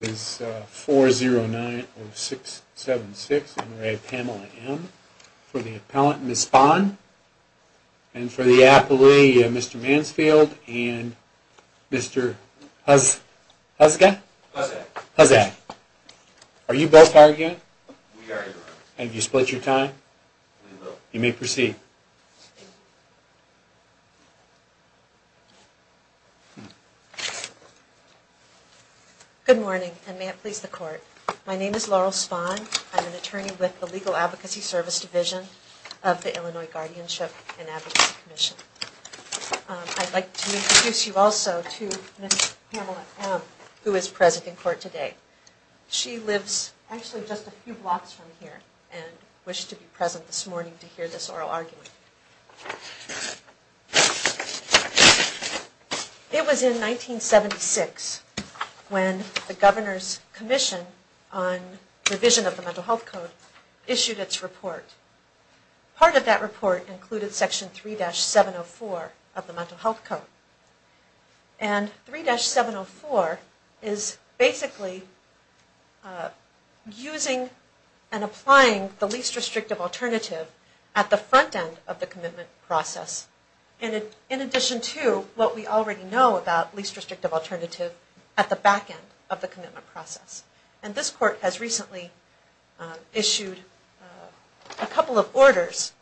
It is 4090676 M. R. A. Pamela M. for the appellant Ms. Spahn and for the appellee Mr. Mansfield and Mr. Huska? Husak. Husak. Are you both hired yet? We are. Have you split your time? We will. You may proceed. Thank you. Good morning and may it please the court. My name is Laurel Spahn. I'm an attorney with the Legal Advocacy Service Division of the Illinois Guardianship and Advocacy Commission. I'd like to introduce you also to Ms. Pamela M who is present in court today. She lives actually just a few blocks from here and wished to be present this morning to hear this oral argument. It was in 1976 when the Governor's Commission on Revision of the Mental Health Code issued its report. Part of that report included section 3-704 of the Mental Health Code. And 3-704 is basically using and applying the least restrictive alternative at the front end of the commitment process in addition to what we already know about least restrictive alternative at the back end of the commitment process. And this court has recently issued a couple of orders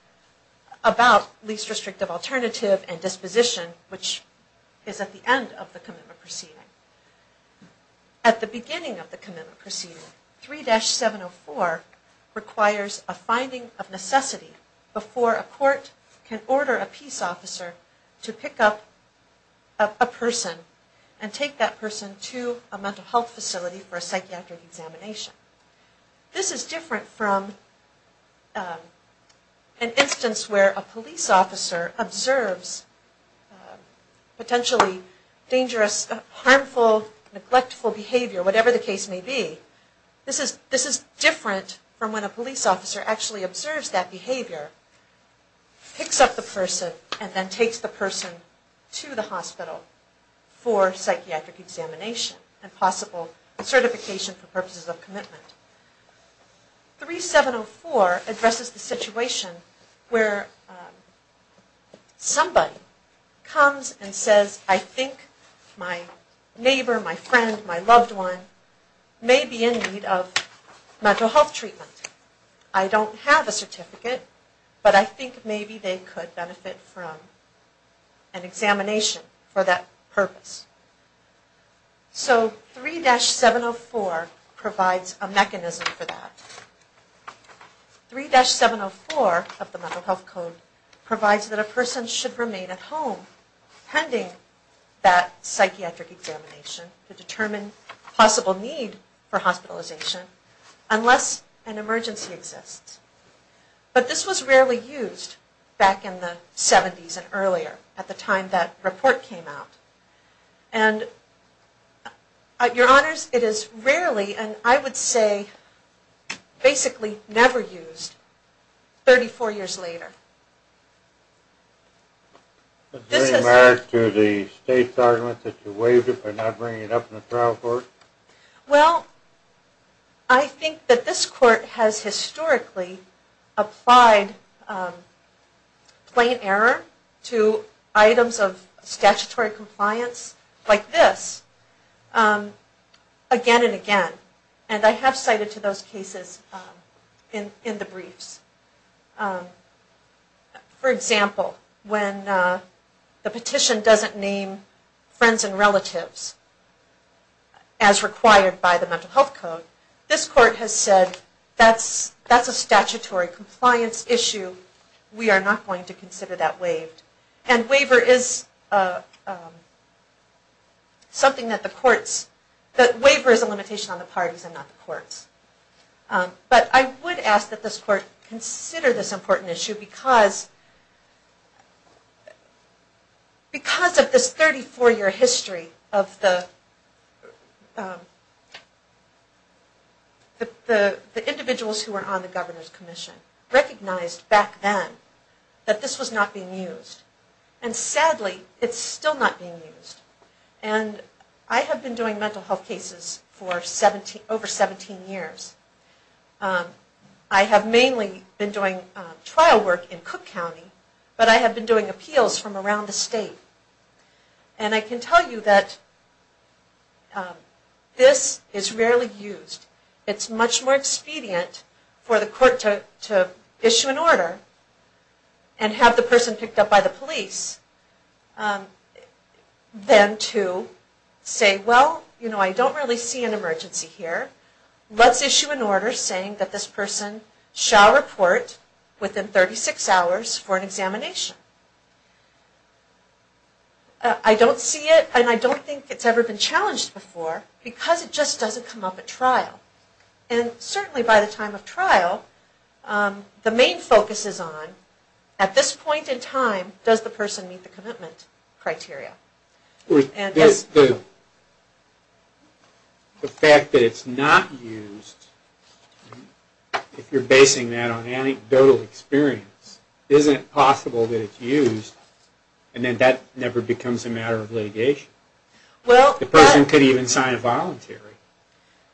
about least restrictive alternative and disposition which is at the end of the commitment proceeding. At the beginning of the commitment proceeding, 3-704 requires a finding of necessity before a court can order a peace officer to pick up a person and take that person to a mental health facility for a psychiatric examination. This is different from an instance where a police officer observes potentially dangerous, harmful, neglectful behavior, whatever the case may be. This is different from when a police officer actually observes that behavior, picks up the person, and then takes the person to the hospital for psychiatric examination and possible certification for purposes of commitment. 3-704 addresses the situation where somebody comes and says, I think my neighbor, my friend, my loved one may be in need of mental health treatment. I don't have a certificate, but I think maybe they could benefit from an examination for that purpose. So 3-704 provides a mechanism for that. 3-704 of the Mental Health Code provides that a person should remain at home pending that psychiatric examination to determine possible need for hospitalization unless an emergency exists. But this was rarely used back in the 70s and earlier at the time that report came out. And, your honors, it is rarely, and I would say basically never used, 34 years later. Is there any merit to the state's argument that you waived it by not bringing it up in the trial court? Well, I think that this court has historically applied plain error to items of statutory compliance like this again and again. And I have cited to those cases in the briefs. For example, when the petition doesn't name friends and relatives as required by the Mental Health Code, this court has said that's a statutory compliance issue, we are not going to consider that waived. And waiver is a limitation on the parties and not the courts. But I would ask that this court consider this important issue because of this 34-year history of the individuals who were on the Governor's Commission. Recognized back then that this was not being used. And sadly, it's still not being used. And I have been doing mental health cases for over 17 years. I have mainly been doing trial work in Cook County, but I have been doing appeals from around the state. And I can tell you that this is rarely used. It's much more expedient for the court to issue an order and have the person picked up by the police than to say, well, you know, I don't really see an emergency here. Let's issue an order saying that this person shall report within 36 hours for an examination. I don't see it and I don't think it's ever been challenged before because it just doesn't come up at trial. And certainly by the time of trial, the main focus is on, at this point in time, does the person meet the commitment criteria? The fact that it's not used, if you're basing that on anecdotal experience, isn't it possible that it's used and then that never becomes a matter of litigation? The person could even sign a voluntary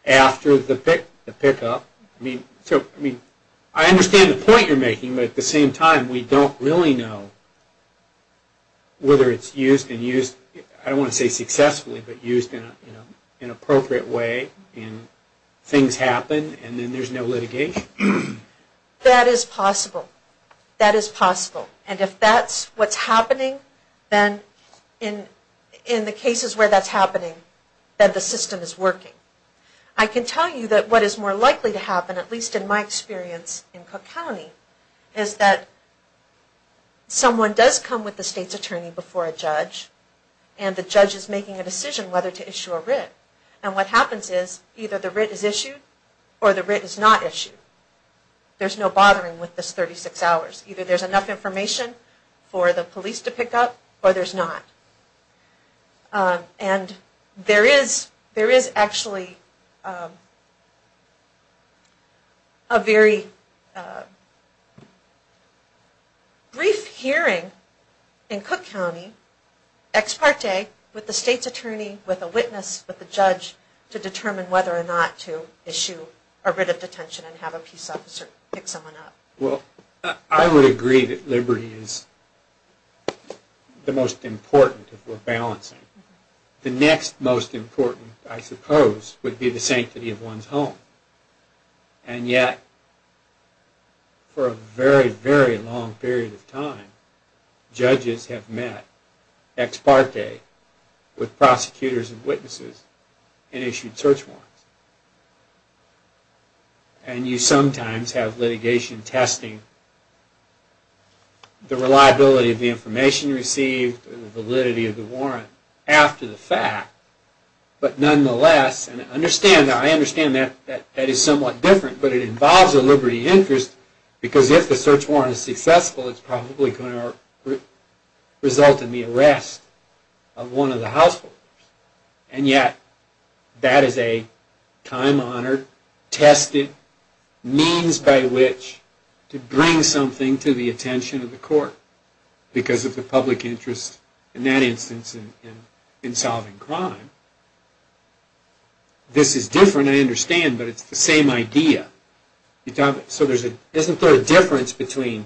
after the pickup. I understand the point you're making, but at the same time we don't really know whether it's used and used, I don't want to say successfully, but used in an appropriate way and things happen and then there's no litigation. That is possible. That is possible. And if that's what's happening, then in the cases where that's happening, then the system is working. I can tell you that what is more likely to happen, at least in my experience in Cook County, is that someone does come with the state's attorney before a judge and the judge is making a decision whether to issue a writ. And what happens is either the writ is issued or the writ is not issued. There's no bothering with this 36 hours. Either there's enough information for the police to pick up or there's not. And there is actually a very brief hearing in Cook County, ex parte, with the state's attorney, with a witness, with a judge, to determine whether or not to issue a writ of detention and have a peace officer pick someone up. Well, I would agree that liberty is the most important if we're balancing. The next most important, I suppose, would be the sanctity of one's home. And yet, for a very, very long period of time, judges have met, ex parte, with prosecutors and witnesses and issued search warrants. And you sometimes have litigation testing the reliability of the information received and the validity of the warrant after the fact. But nonetheless, and I understand that that is somewhat different, but it involves a liberty interest because if the search warrant is successful, it's probably going to result in the arrest of one of the householders. And yet, that is a time-honored, tested means by which to bring something to the attention of the court because of the public interest, in that instance, in solving crime. This is different, I understand, but it's the same idea. So isn't there a difference between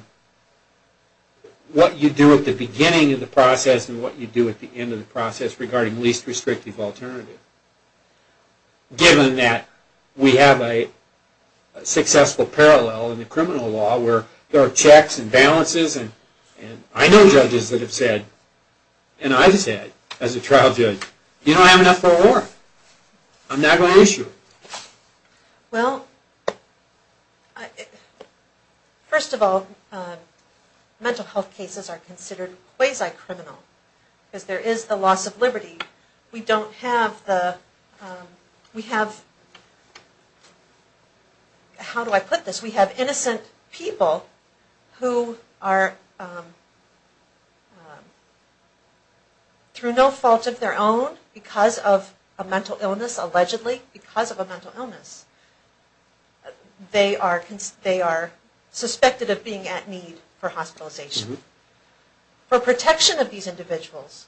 what you do at the beginning of the process and what you do at the end of the process regarding least restrictive alternative? Given that we have a successful parallel in the criminal law where there are checks and balances, and I know judges that have said, and I've said as a trial judge, you don't have enough for a warrant. I'm not going to issue it. Well, first of all, mental health cases are considered quasi-criminal because there is the loss of liberty. We don't have the, we have, how do I put this, we have innocent people who are through no fault of their own because of a mental illness, allegedly because of a mental illness. They are suspected of being at need for hospitalization. For protection of these individuals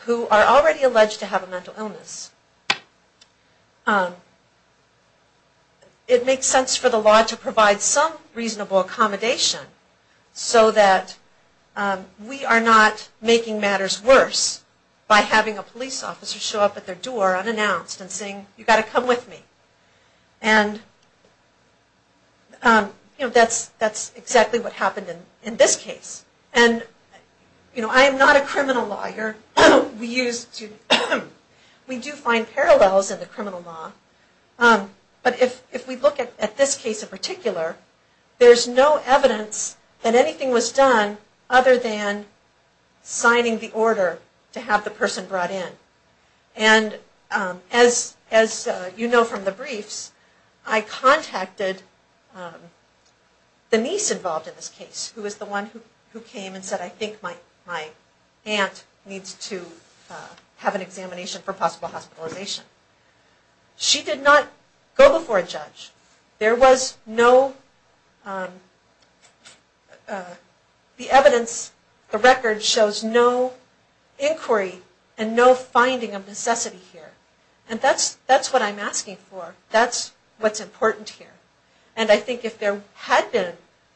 who are already alleged to have a mental illness, it makes sense for the law to provide some reasonable accommodation so that we are not making matters worse by having a police officer show up at their door unannounced and saying, you've got to come with me. That's exactly what happened in this case. I am not a criminal lawyer. We do find parallels in the criminal law, but if we look at this case in particular, there's no evidence that anything was done other than signing the order to have the person brought in. And as you know from the briefs, I contacted the niece involved in this case, who was the one who came and said, I think my aunt needs to have an examination for possible hospitalization. There was no, the evidence, the record shows no inquiry and no finding of necessity here. And that's what I'm asking for. That's what's important here. And I think if there had been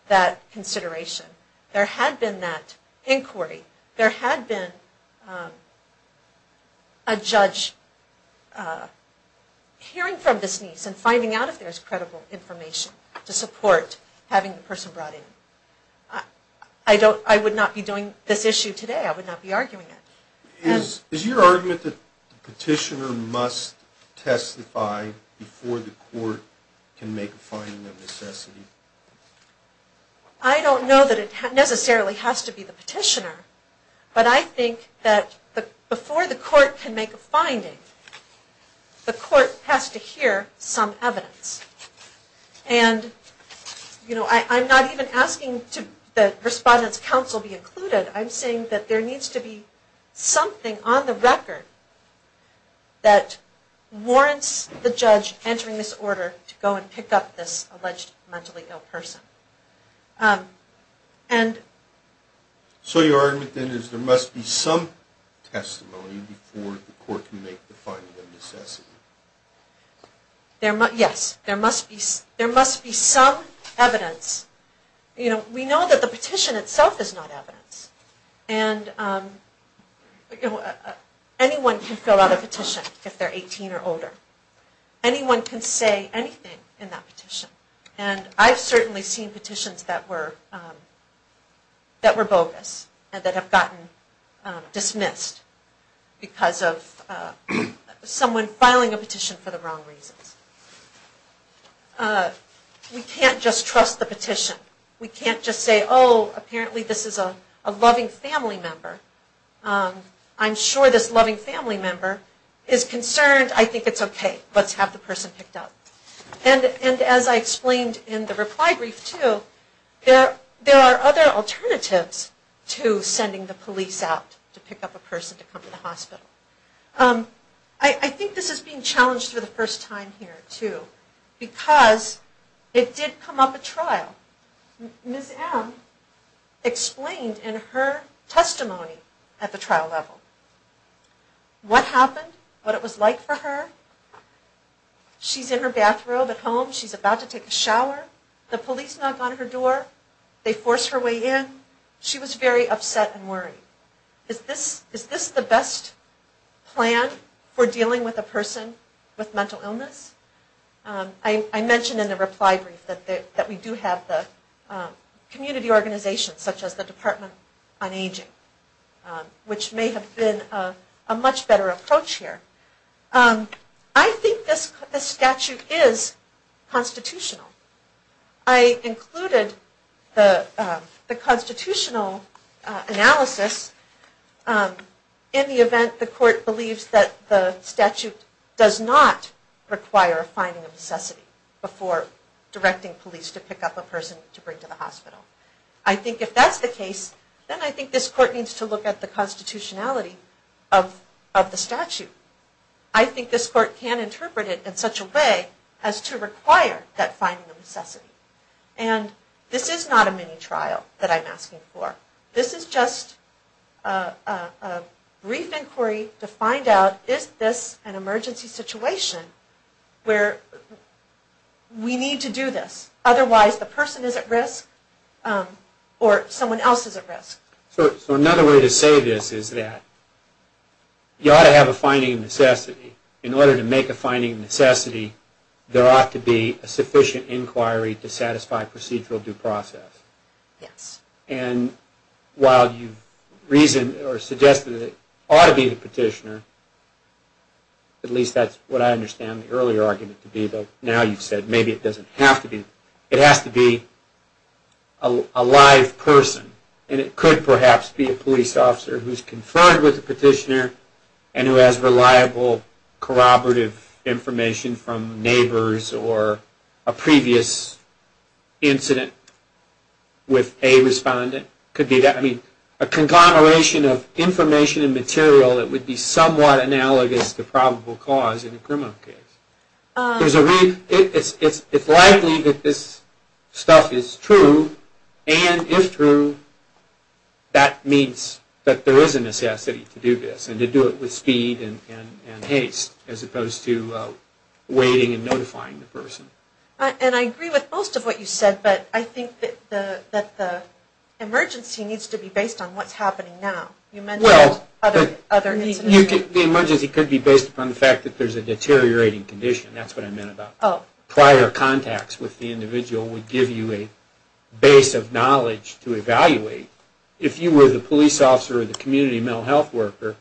that consideration, there had been that inquiry, there had been a judge hearing from this niece and finding out if there's credible information to support having the person brought in. I would not be doing this issue today. I would not be arguing it. Is your argument that the petitioner must testify before the court can make a finding of necessity? I don't know that it necessarily has to be the petitioner, but I think that before the court can make a finding, the court has to hear some evidence. And, you know, I'm not even asking that Respondent's Counsel be included. I'm saying that there needs to be something on the record that warrants the judge entering this order to go and pick up this alleged mentally ill person. So your argument then is there must be some testimony before the court can make the finding of necessity? Yes. There must be some evidence. You know, we know that the petition itself is not evidence. And anyone can fill out a petition if they're 18 or older. Anyone can say anything in that petition. And I've certainly seen petitions that were bogus and that have gotten dismissed because of someone filing a petition for the wrong reasons. We can't just trust the petition. We can't just say, oh, apparently this is a loving family member. I'm sure this loving family member is concerned. I think it's okay. Let's have the person picked up. And as I explained in the reply brief, too, there are other alternatives to sending the police out to pick up a person to come to the hospital. I think this is being challenged for the first time here, too, because it did come up at trial. Ms. M. explained in her testimony at the trial level what happened, what it was like for her. She's in her bathrobe at home. She's about to take a shower. The police knock on her door. They force her way in. She was very upset and worried. Is this the best plan for dealing with a person with mental illness? I mentioned in the reply brief that we do have the community organizations, such as the Department on Aging, which may have been a much better approach here. I think this statute is constitutional. I included the constitutional analysis in the event the court believes that the statute does not require a finding of necessity before directing police to pick up a person to bring to the hospital. I think if that's the case, then I think this court needs to look at the constitutionality of the statute. I think this court can interpret it in such a way as to require that finding of necessity. And this is not a mini-trial that I'm asking for. This is just a brief inquiry to find out if this is an emergency situation where we need to do this. Otherwise, the person is at risk or someone else is at risk. So another way to say this is that you ought to have a finding of necessity. In order to make a finding of necessity, there ought to be a sufficient inquiry to satisfy procedural due process. And while you've reasoned or suggested that it ought to be the petitioner, at least that's what I understand the earlier argument to be, but now you've said maybe it doesn't have to be. It has to be a live person. And it could perhaps be a police officer who's conferred with the petitioner and who has reliable corroborative information from neighbors or a previous incident with a respondent. It could be that. I mean, a conglomeration of information and material that would be somewhat analogous to probable cause in a criminal case. It's likely that this stuff is true. And if true, that means that there is a necessity to do this and to do it with speed and haste as opposed to waiting and notifying the person. And I agree with most of what you said, but I think that the emergency needs to be based on what's happening now. You mentioned other incidents. Well, the emergency could be based upon the fact that there's a deteriorating condition. I don't know if that would give you a base of knowledge to evaluate. If you were the police officer or the community mental health worker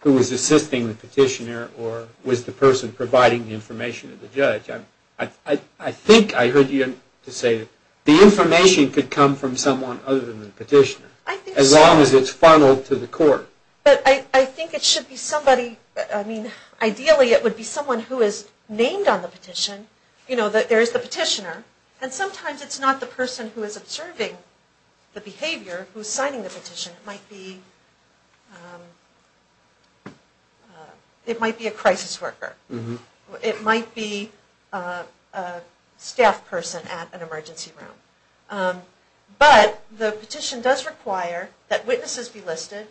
who was assisting the petitioner or was the person providing the information to the judge, I think I heard you say that the information could come from someone other than the petitioner, as long as it's funneled to the court. But I think it should be somebody, I mean, ideally it would be someone who is named on the petition. You know, there is the petitioner. And sometimes it's not the person who is observing the behavior who is signing the petition. It might be a crisis worker. It might be a staff person at an emergency room. But the petition does require that witnesses be listed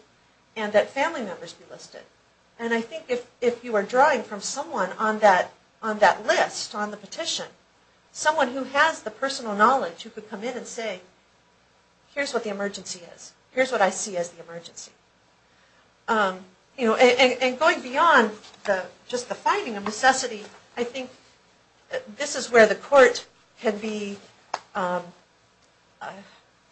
and that family members be listed. And I think if you are drawing from someone on that list on the petition, someone who has the personal knowledge who could come in and say, here's what the emergency is, here's what I see as the emergency. And going beyond just the finding of necessity, I think this is where the court can be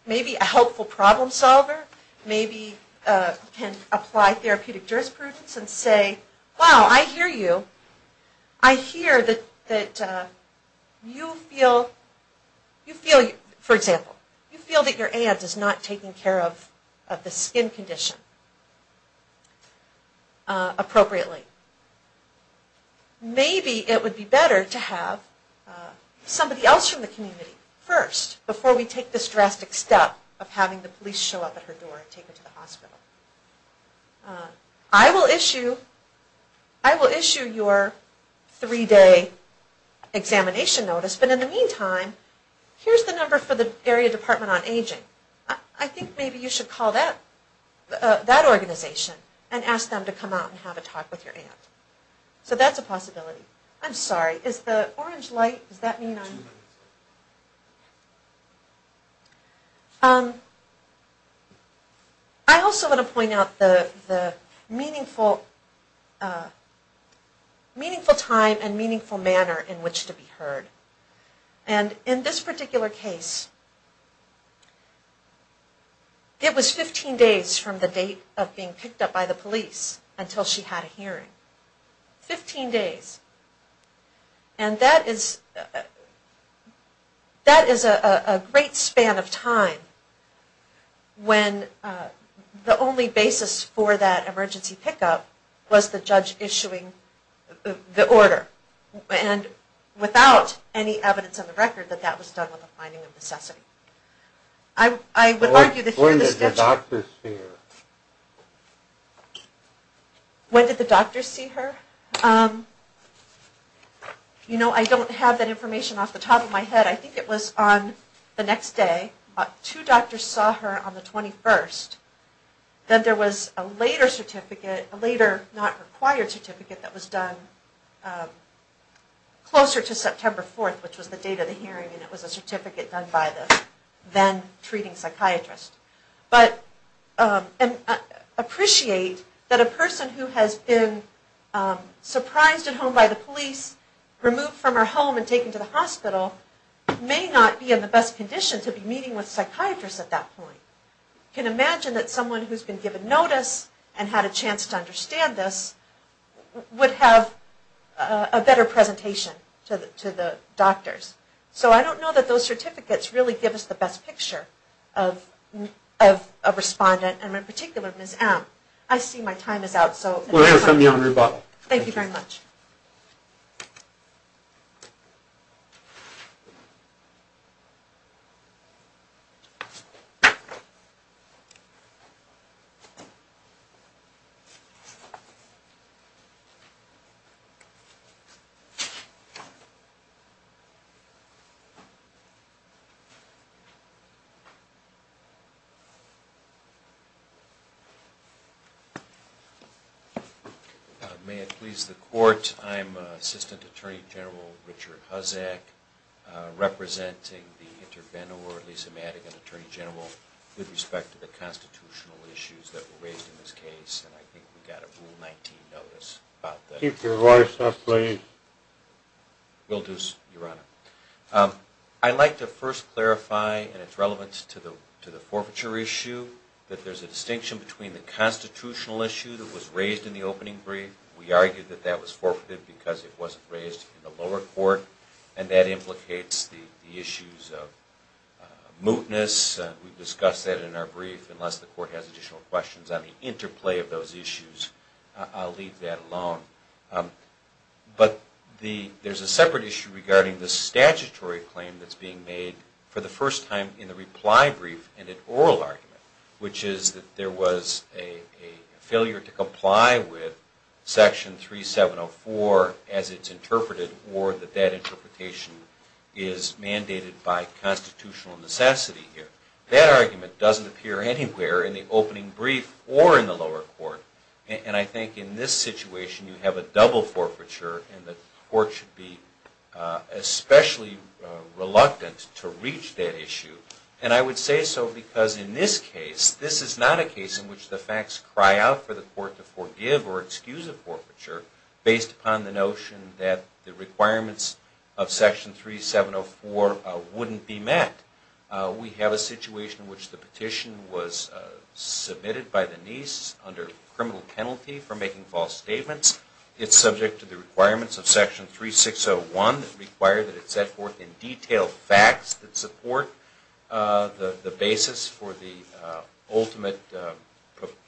maybe a helpful problem solver, maybe can apply therapeutic jurisprudence and say, wow, I hear you. I hear that you feel, for example, you feel that your aunt is not taking care of the skin condition appropriately. Maybe it would be better to have somebody else from the community first before we take this drastic step of having the police show up at her door and take her to the hospital. I will issue your three-day examination notice, but in the meantime, here's the number for the Area Department on Aging. I think maybe you should call that organization and ask them to come out and have a talk with your aunt. So that's a possibility. I'm sorry, is the orange light, does that mean I'm... I also want to point out the meaningful time and meaningful manner in which to be heard. And in this particular case, it was 15 days from the date of being picked up by the police until she had a hearing. 15 days. And that is a great span of time when the only basis for that emergency pickup was the judge issuing the order. And without any evidence on the record that that was done with a finding of necessity. I would argue that... When did the doctors hear? When did the doctors see her? You know, I don't have that information off the top of my head. I think it was on the next day. Two doctors saw her on the 21st. Then there was a later certificate, a later not required certificate, that was done closer to September 4th, which was the date of the hearing. And it was a certificate done by the then treating psychiatrist. But I appreciate that a person who has been surprised at home by the police, removed from her home and taken to the hospital, may not be in the best condition to be meeting with a psychiatrist at that point. You can imagine that someone who has been given notice and had a chance to understand this would have a better presentation to the doctors. So I don't know that those certificates really give us the best picture of a respondent, and in particular Ms. M. I see my time is out. Thank you very much. May it please the court, I'm Assistant Attorney General Richard Huzak, representing the Intervenor Lisa Madigan, Attorney General, with respect to the constitutional issues that were raised in this case, and I think we got a Rule 19 notice about that. Keep your voice up, please. Will do, Your Honor. I'd like to first clarify, and it's relevant to the forfeiture issue, that there's a distinction between the constitutional issue that was raised in the opening brief. We argued that that was forfeited because it wasn't raised in the lower court, and that implicates the issues of mootness. We've discussed that in our brief. Unless the court has additional questions on the interplay of those issues, I'll leave that alone. But there's a separate issue regarding the statutory claim that's being made for the first time in the reply brief and in oral argument, which is that there was a failure to comply with Section 3704 as it's interpreted, or that that interpretation is mandated by constitutional necessity here. That argument doesn't appear anywhere in the opening brief or in the lower court, and I think in this situation you have a double forfeiture, and the court should be especially reluctant to reach that issue. And I would say so because in this case, this is not a case in which the facts cry out for the court to forgive or excuse a forfeiture based upon the notion that the requirements of Section 3704 wouldn't be met. We have a situation in which the petition was submitted by the niece under criminal penalty for making false statements. It's subject to the requirements of Section 3601 that require that it set forth in detail facts that support the basis for the ultimate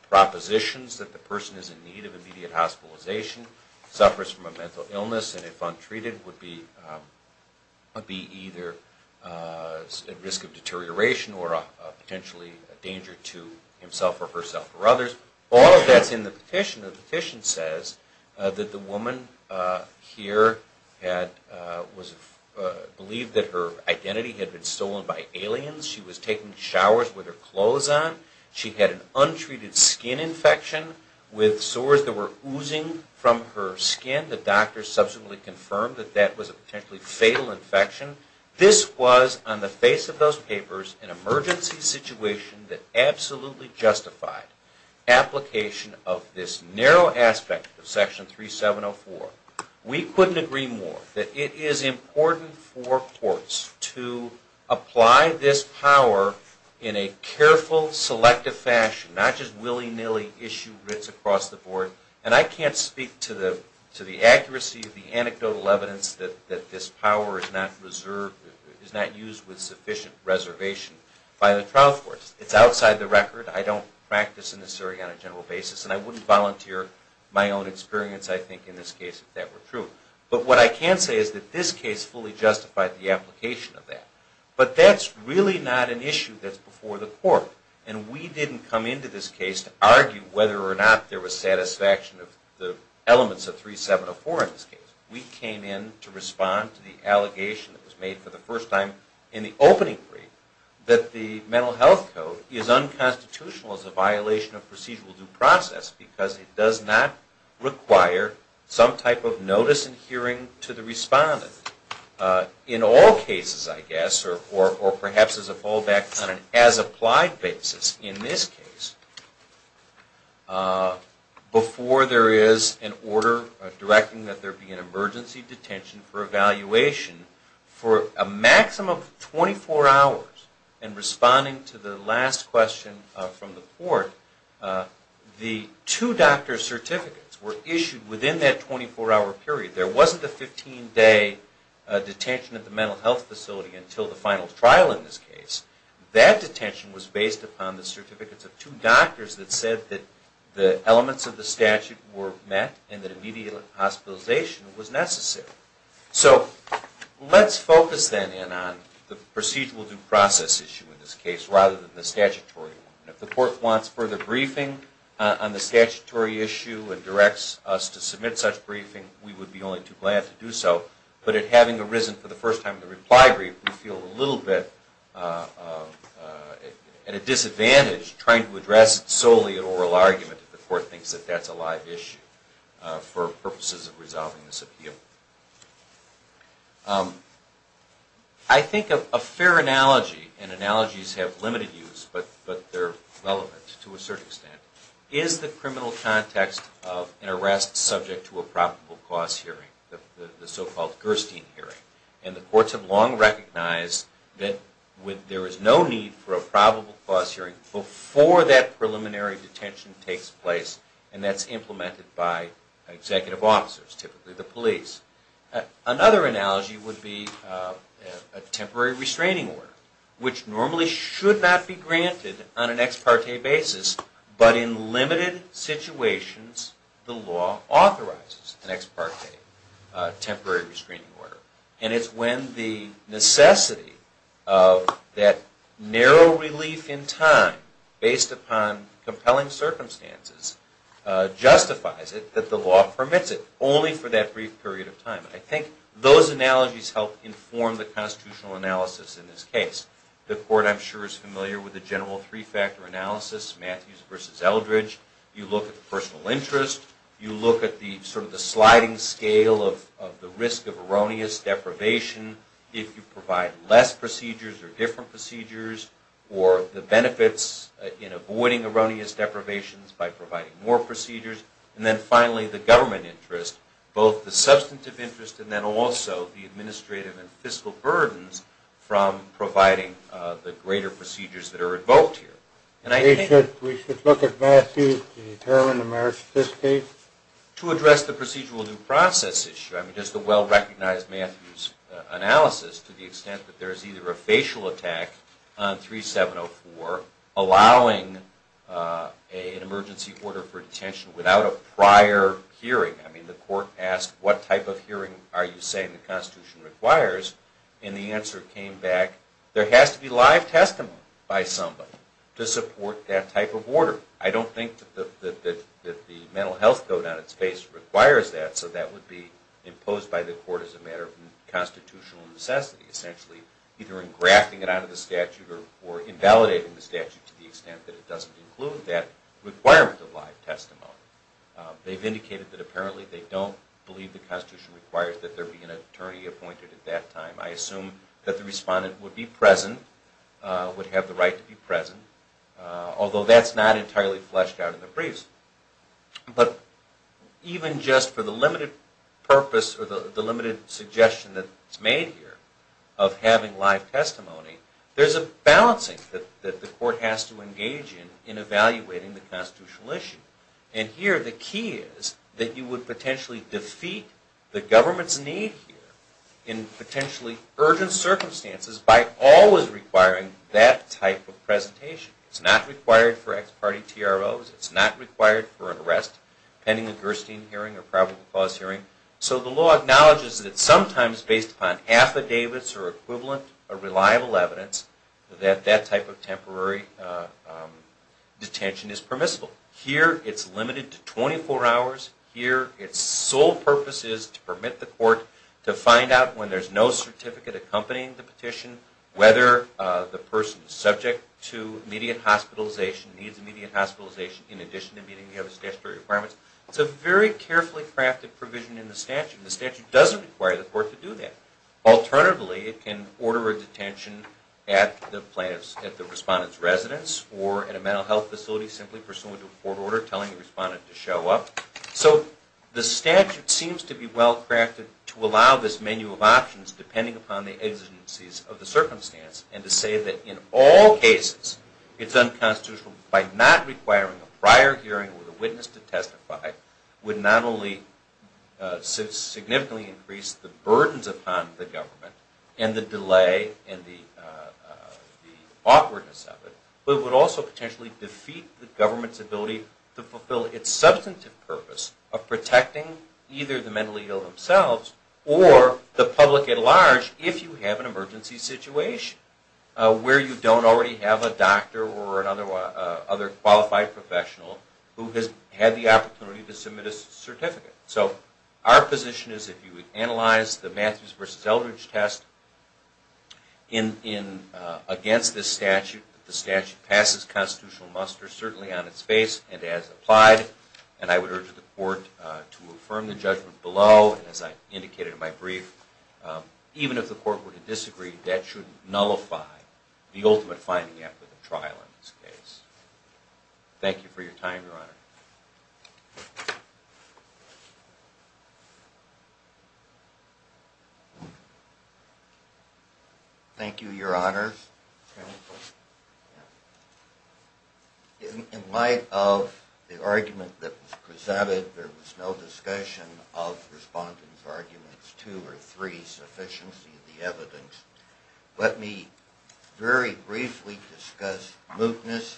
propositions that the person is in need of immediate hospitalization, suffers from a mental illness, and if untreated would be either at risk of deterioration or potentially a danger to himself or herself or others. All of that's in the petition. The petition says that the woman here believed that her identity had been stolen by aliens. She was taking showers with her clothes on. She had an untreated skin infection with sores that were oozing from her skin. The doctors subsequently confirmed that that was a potentially fatal infection. This was, on the face of those papers, an emergency situation that absolutely justified application of this narrow aspect of Section 3704. We couldn't agree more that it is important for courts to apply this power in a careful, selective fashion, not just willy-nilly issue writs across the board. And I can't speak to the accuracy of the anecdotal evidence that this power is not used with sufficient reservation by the trial courts. It's outside the record. I don't practice in this area on a general basis, and I wouldn't volunteer my own experience, I think, in this case if that were true. But what I can say is that this case fully justified the application of that. But that's really not an issue that's before the court, and we didn't come into this case to argue whether or not there was satisfaction of the elements of 3704 in this case. We came in to respond to the allegation that was made for the first time in the opening brief that the Mental Health Code is unconstitutional as a violation of procedural due process because it does not require some type of notice and hearing to the respondent. In all cases, I guess, or perhaps as a fallback on an as-applied basis in this case, before there is an order directing that there be an emergency detention for evaluation, for a maximum of 24 hours, and responding to the last question from the court, the two doctor certificates were issued within that 24-hour period. There wasn't a 15-day detention at the mental health facility until the final trial in this case. That detention was based upon the certificates of two doctors that said that the elements of the statute were met and that immediate hospitalization was necessary. So let's focus then on the procedural due process issue in this case rather than the statutory one. If the court wants further briefing on the statutory issue and directs us to submit such briefing, we would be only too glad to do so, but in having arisen for the first time in the reply brief, we feel a little bit at a disadvantage trying to address solely an oral argument if the court thinks that that's a live issue for purposes of resolving this appeal. I think a fair analogy, and analogies have limited use but they're relevant to a certain extent, is the criminal context of an arrest subject to a probable cause hearing, the so-called Gerstein hearing. And the courts have long recognized that there is no need for a probable cause hearing before that preliminary detention takes place and that's implemented by executive officers, typically the police. Another analogy would be a temporary restraining order, which normally should not be granted on an ex parte basis, but in limited situations the law authorizes an ex parte temporary restraining order. And it's when the necessity of that narrow relief in time based upon compelling circumstances justifies it that the law permits it only for that brief period of time. I think those analogies help inform the constitutional analysis in this case. The court, I'm sure, is familiar with the general three-factor analysis, Matthews versus Eldridge. You look at the personal interest, you look at the sliding scale of the risk of erroneous deprivation if you provide less procedures or different procedures, or the benefits in avoiding erroneous deprivations by providing more procedures. And then finally the government interest, both the substantive interest and then also the administrative and fiscal burdens from providing the greater procedures that are invoked here. We should look at Matthews to determine the merits of this case? To address the procedural due process issue, I mean just a well-recognized Matthews analysis to the extent that there is either a facial attack on 3704 allowing an emergency order for detention without a prior hearing. I mean the court asked, what type of hearing are you saying the Constitution requires? And the answer came back, there has to be live testimony by somebody to support that type of order. I don't think that the mental health code on its face requires that, so that would be imposed by the court as a matter of constitutional necessity. Essentially either in grafting it out of the statute or invalidating the statute to the extent that it doesn't include that requirement of live testimony. They've indicated that apparently they don't believe the Constitution requires that there be an attorney appointed at that time. I assume that the respondent would be present, would have the right to be present, although that's not entirely fleshed out in the briefs. But even just for the limited purpose or the limited suggestion that's made here of having live testimony, there's a balancing that the court has to engage in in evaluating the constitutional issue. And here the key is that you would potentially defeat the government's need here in potentially urgent circumstances by always requiring that type of presentation. It's not required for ex-party TROs. It's not required for an arrest pending a Gerstein hearing or probable cause hearing. So the law acknowledges that sometimes based upon affidavits or equivalent or reliable evidence that that type of temporary detention is permissible. Here it's limited to 24 hours. Here its sole purpose is to permit the court to find out when there's no certificate accompanying the petition whether the person is subject to immediate hospitalization, needs immediate hospitalization in addition to meeting the other statutory requirements. It's a very carefully crafted provision in the statute. The statute doesn't require the court to do that. Alternatively, it can order a detention at the respondent's residence or at a mental health facility simply pursuant to a court order telling the respondent to show up. So the statute seems to be well crafted to allow this menu of options depending upon the exigencies of the circumstance and to say that in all cases it's unconstitutional by not requiring a prior hearing with a witness to testify would not only significantly increase the burdens upon the government and the delay and the awkwardness of it, but it would also potentially defeat the government's ability to fulfill its substantive purpose of protecting either the mentally ill themselves or the public at large if you have an emergency situation where you don't already have a doctor or another qualified professional who has had the opportunity to submit a certificate. So our position is if you would analyze the Matthews v. Eldridge test against this statute, that the statute passes constitutional muster certainly on its face and as applied, and I would urge the court to affirm the judgment below and as I indicated in my brief, even if the court were to disagree, that shouldn't nullify the ultimate finding after the trial in this case. Thank you for your time, Your Honor. Thank you, Your Honors. In light of the argument that was presented, there was no discussion of Respondent's arguments two or three, sufficiency of the evidence. Let me very briefly discuss mootness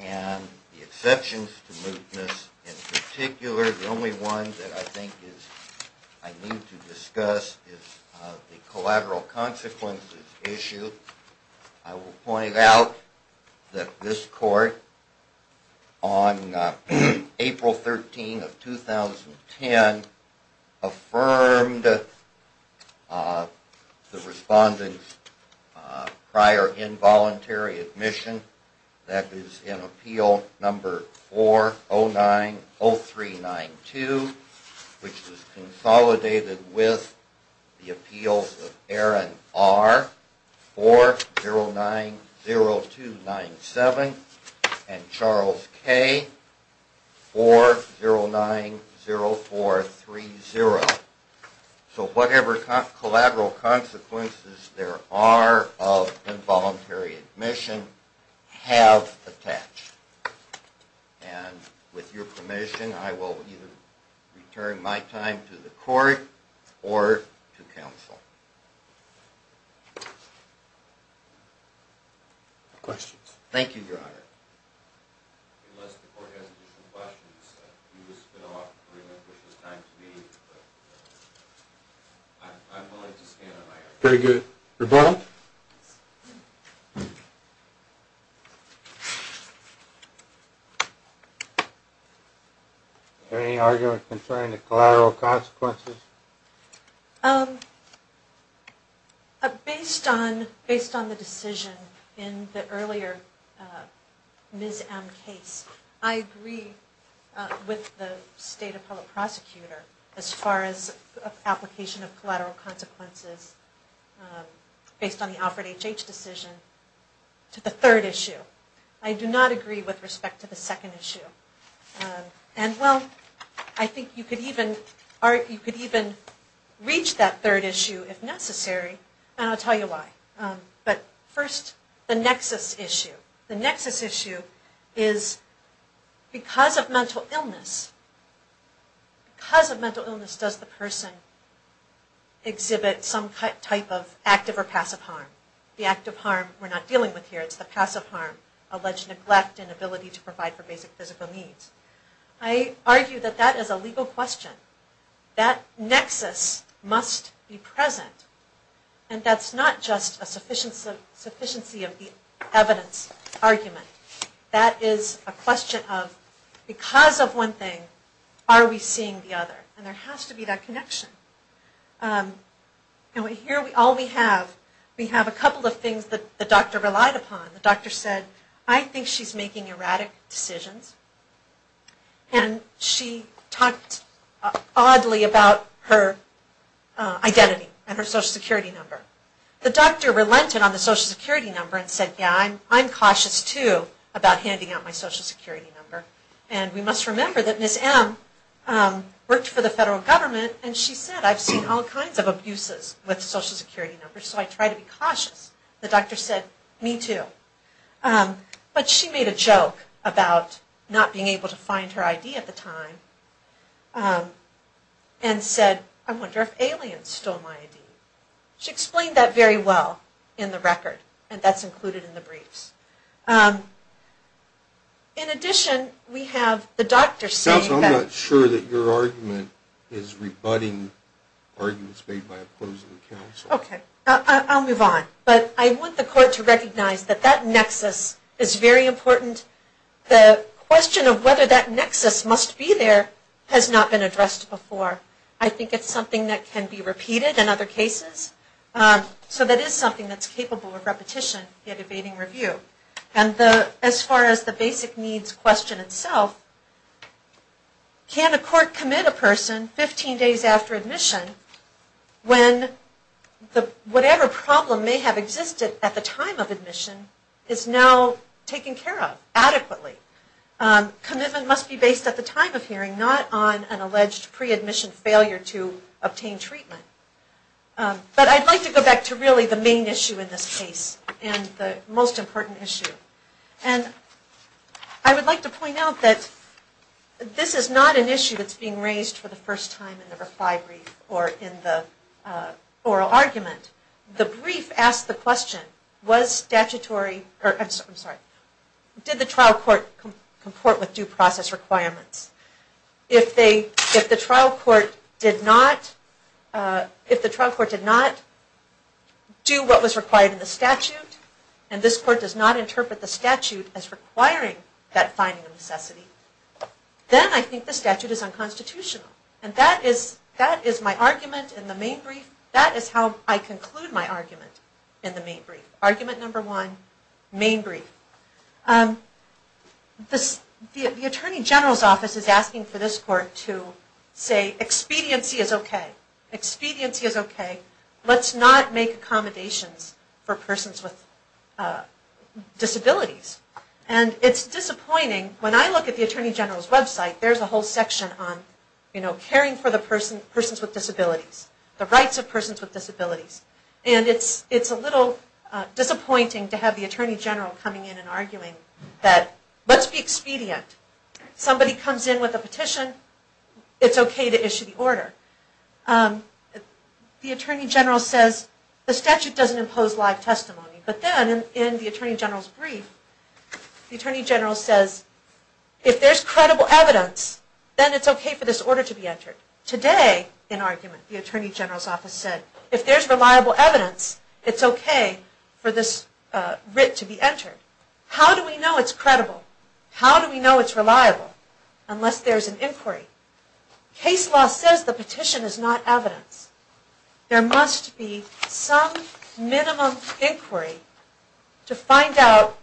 and the exceptions to mootness. In particular, the only one that I think I need to discuss is the collateral consequences issue. I will point out that this court on April 13 of 2010 affirmed the Respondent's prior involuntary admission. That is in Appeal number 4090392, which was consolidated with the appeals of Aaron R. 4090297 and Charles K. 4090430. So whatever collateral consequences there are of that, I will not discuss. And with your permission, I will either return my time to the court or to counsel. Questions? Thank you, Your Honor. Unless the court has additional questions. I would like to stand on my own. Very good. Rebuttal? Any arguments concerning the collateral consequences? Based on the decision in the earlier Ms. M. case, I agree with the State Prosecutor as far as application of collateral consequences based on the Alfred H. H. decision to the third issue. I do not agree with respect to the second issue. I think you could even reach that third issue if necessary and I'll tell you why. But first, the nexus issue. The nexus issue is because of mental illness, because of mental illness does the person exhibit some type of active or passive harm? The active harm we're not dealing with here. It's the passive harm. Alleged neglect and inability to provide for basic physical needs. I argue that that is a legal question. That nexus must be present and that's not just a sufficiency of the evidence argument. That is a question of because of one thing are we seeing the other? And there has to be that connection. Here all we have, we have a couple of things that the doctor relied upon. The doctor said I think she's making erratic decisions and she talked oddly about her identity and her social security number. The doctor relented on the social security number and said yeah I'm cautious too about handing out my social security number. And we must remember that Ms. M worked for the federal government and she said I've seen all kinds of abuses with social security numbers so I try to be cautious. The doctor said me too. But she made a joke about not being able to find her ID at the time and said I wonder if aliens stole my ID. She explained that very well in the record and that's included in the briefs. In addition we have the doctor saying that... I'm not sure that your argument is rebutting arguments made by opposing I'll move on. But I want the court to recognize that that nexus is very important. The question of whether that nexus must be there has not been addressed before. I think it's something that can be repeated in other cases. So that is something that is capable of repetition in evading review. As far as the basic needs question itself, can a court commit a person 15 days after admission when whatever problem may have existed at the time of admission is now taken care of adequately. Commitment must be based at the time of hearing not on an alleged pre-admission failure to obtain treatment. But I'd like to go back to really the main issue in this case and the most important issue. I would like to point out that this is not an issue that is being raised for the first time in the reply brief or in the oral argument. The brief asks the question, did the trial court comport with due process requirements? If the trial court did not do what was required in the statute and this court does not interpret the statute as requiring that finding of necessity, then I think the statute is unconstitutional. That is how I conclude my argument in the main brief. Argument number one, main brief. The Attorney General's office is asking for this court to say expediency is okay. Expediency is okay. Let's not make accommodations for persons with disabilities. And it's disappointing, when I look at the Attorney General's website, there's a whole section on caring for the persons with disabilities. The rights of persons with disabilities. And it's a little disappointing to have the Attorney General coming in and arguing that let's be expedient. Somebody comes in with a petition, it's okay to issue the order. The Attorney General says the statute doesn't impose live testimony. But then in the Attorney General's brief, the Attorney General says, if there's credible evidence, then it's okay for this order to be entered. Today, in argument, the Attorney General's office said, if there's reliable evidence, it's okay for this writ to be entered. How do we know it's credible? How do we know it's reliable? Unless there's an inquiry. Case law says the petition is not evidence. There must be some minimum inquiry to find out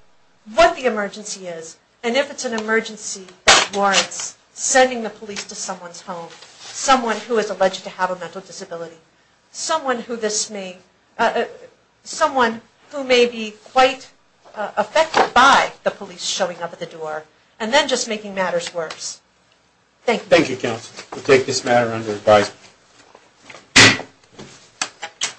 what the emergency is. And if it's an emergency that warrants sending the police to someone's home. Someone who is alleged to have a mental disability. Someone who may be quite affected by the police showing up at the door. And then just making matters worse. Thank you.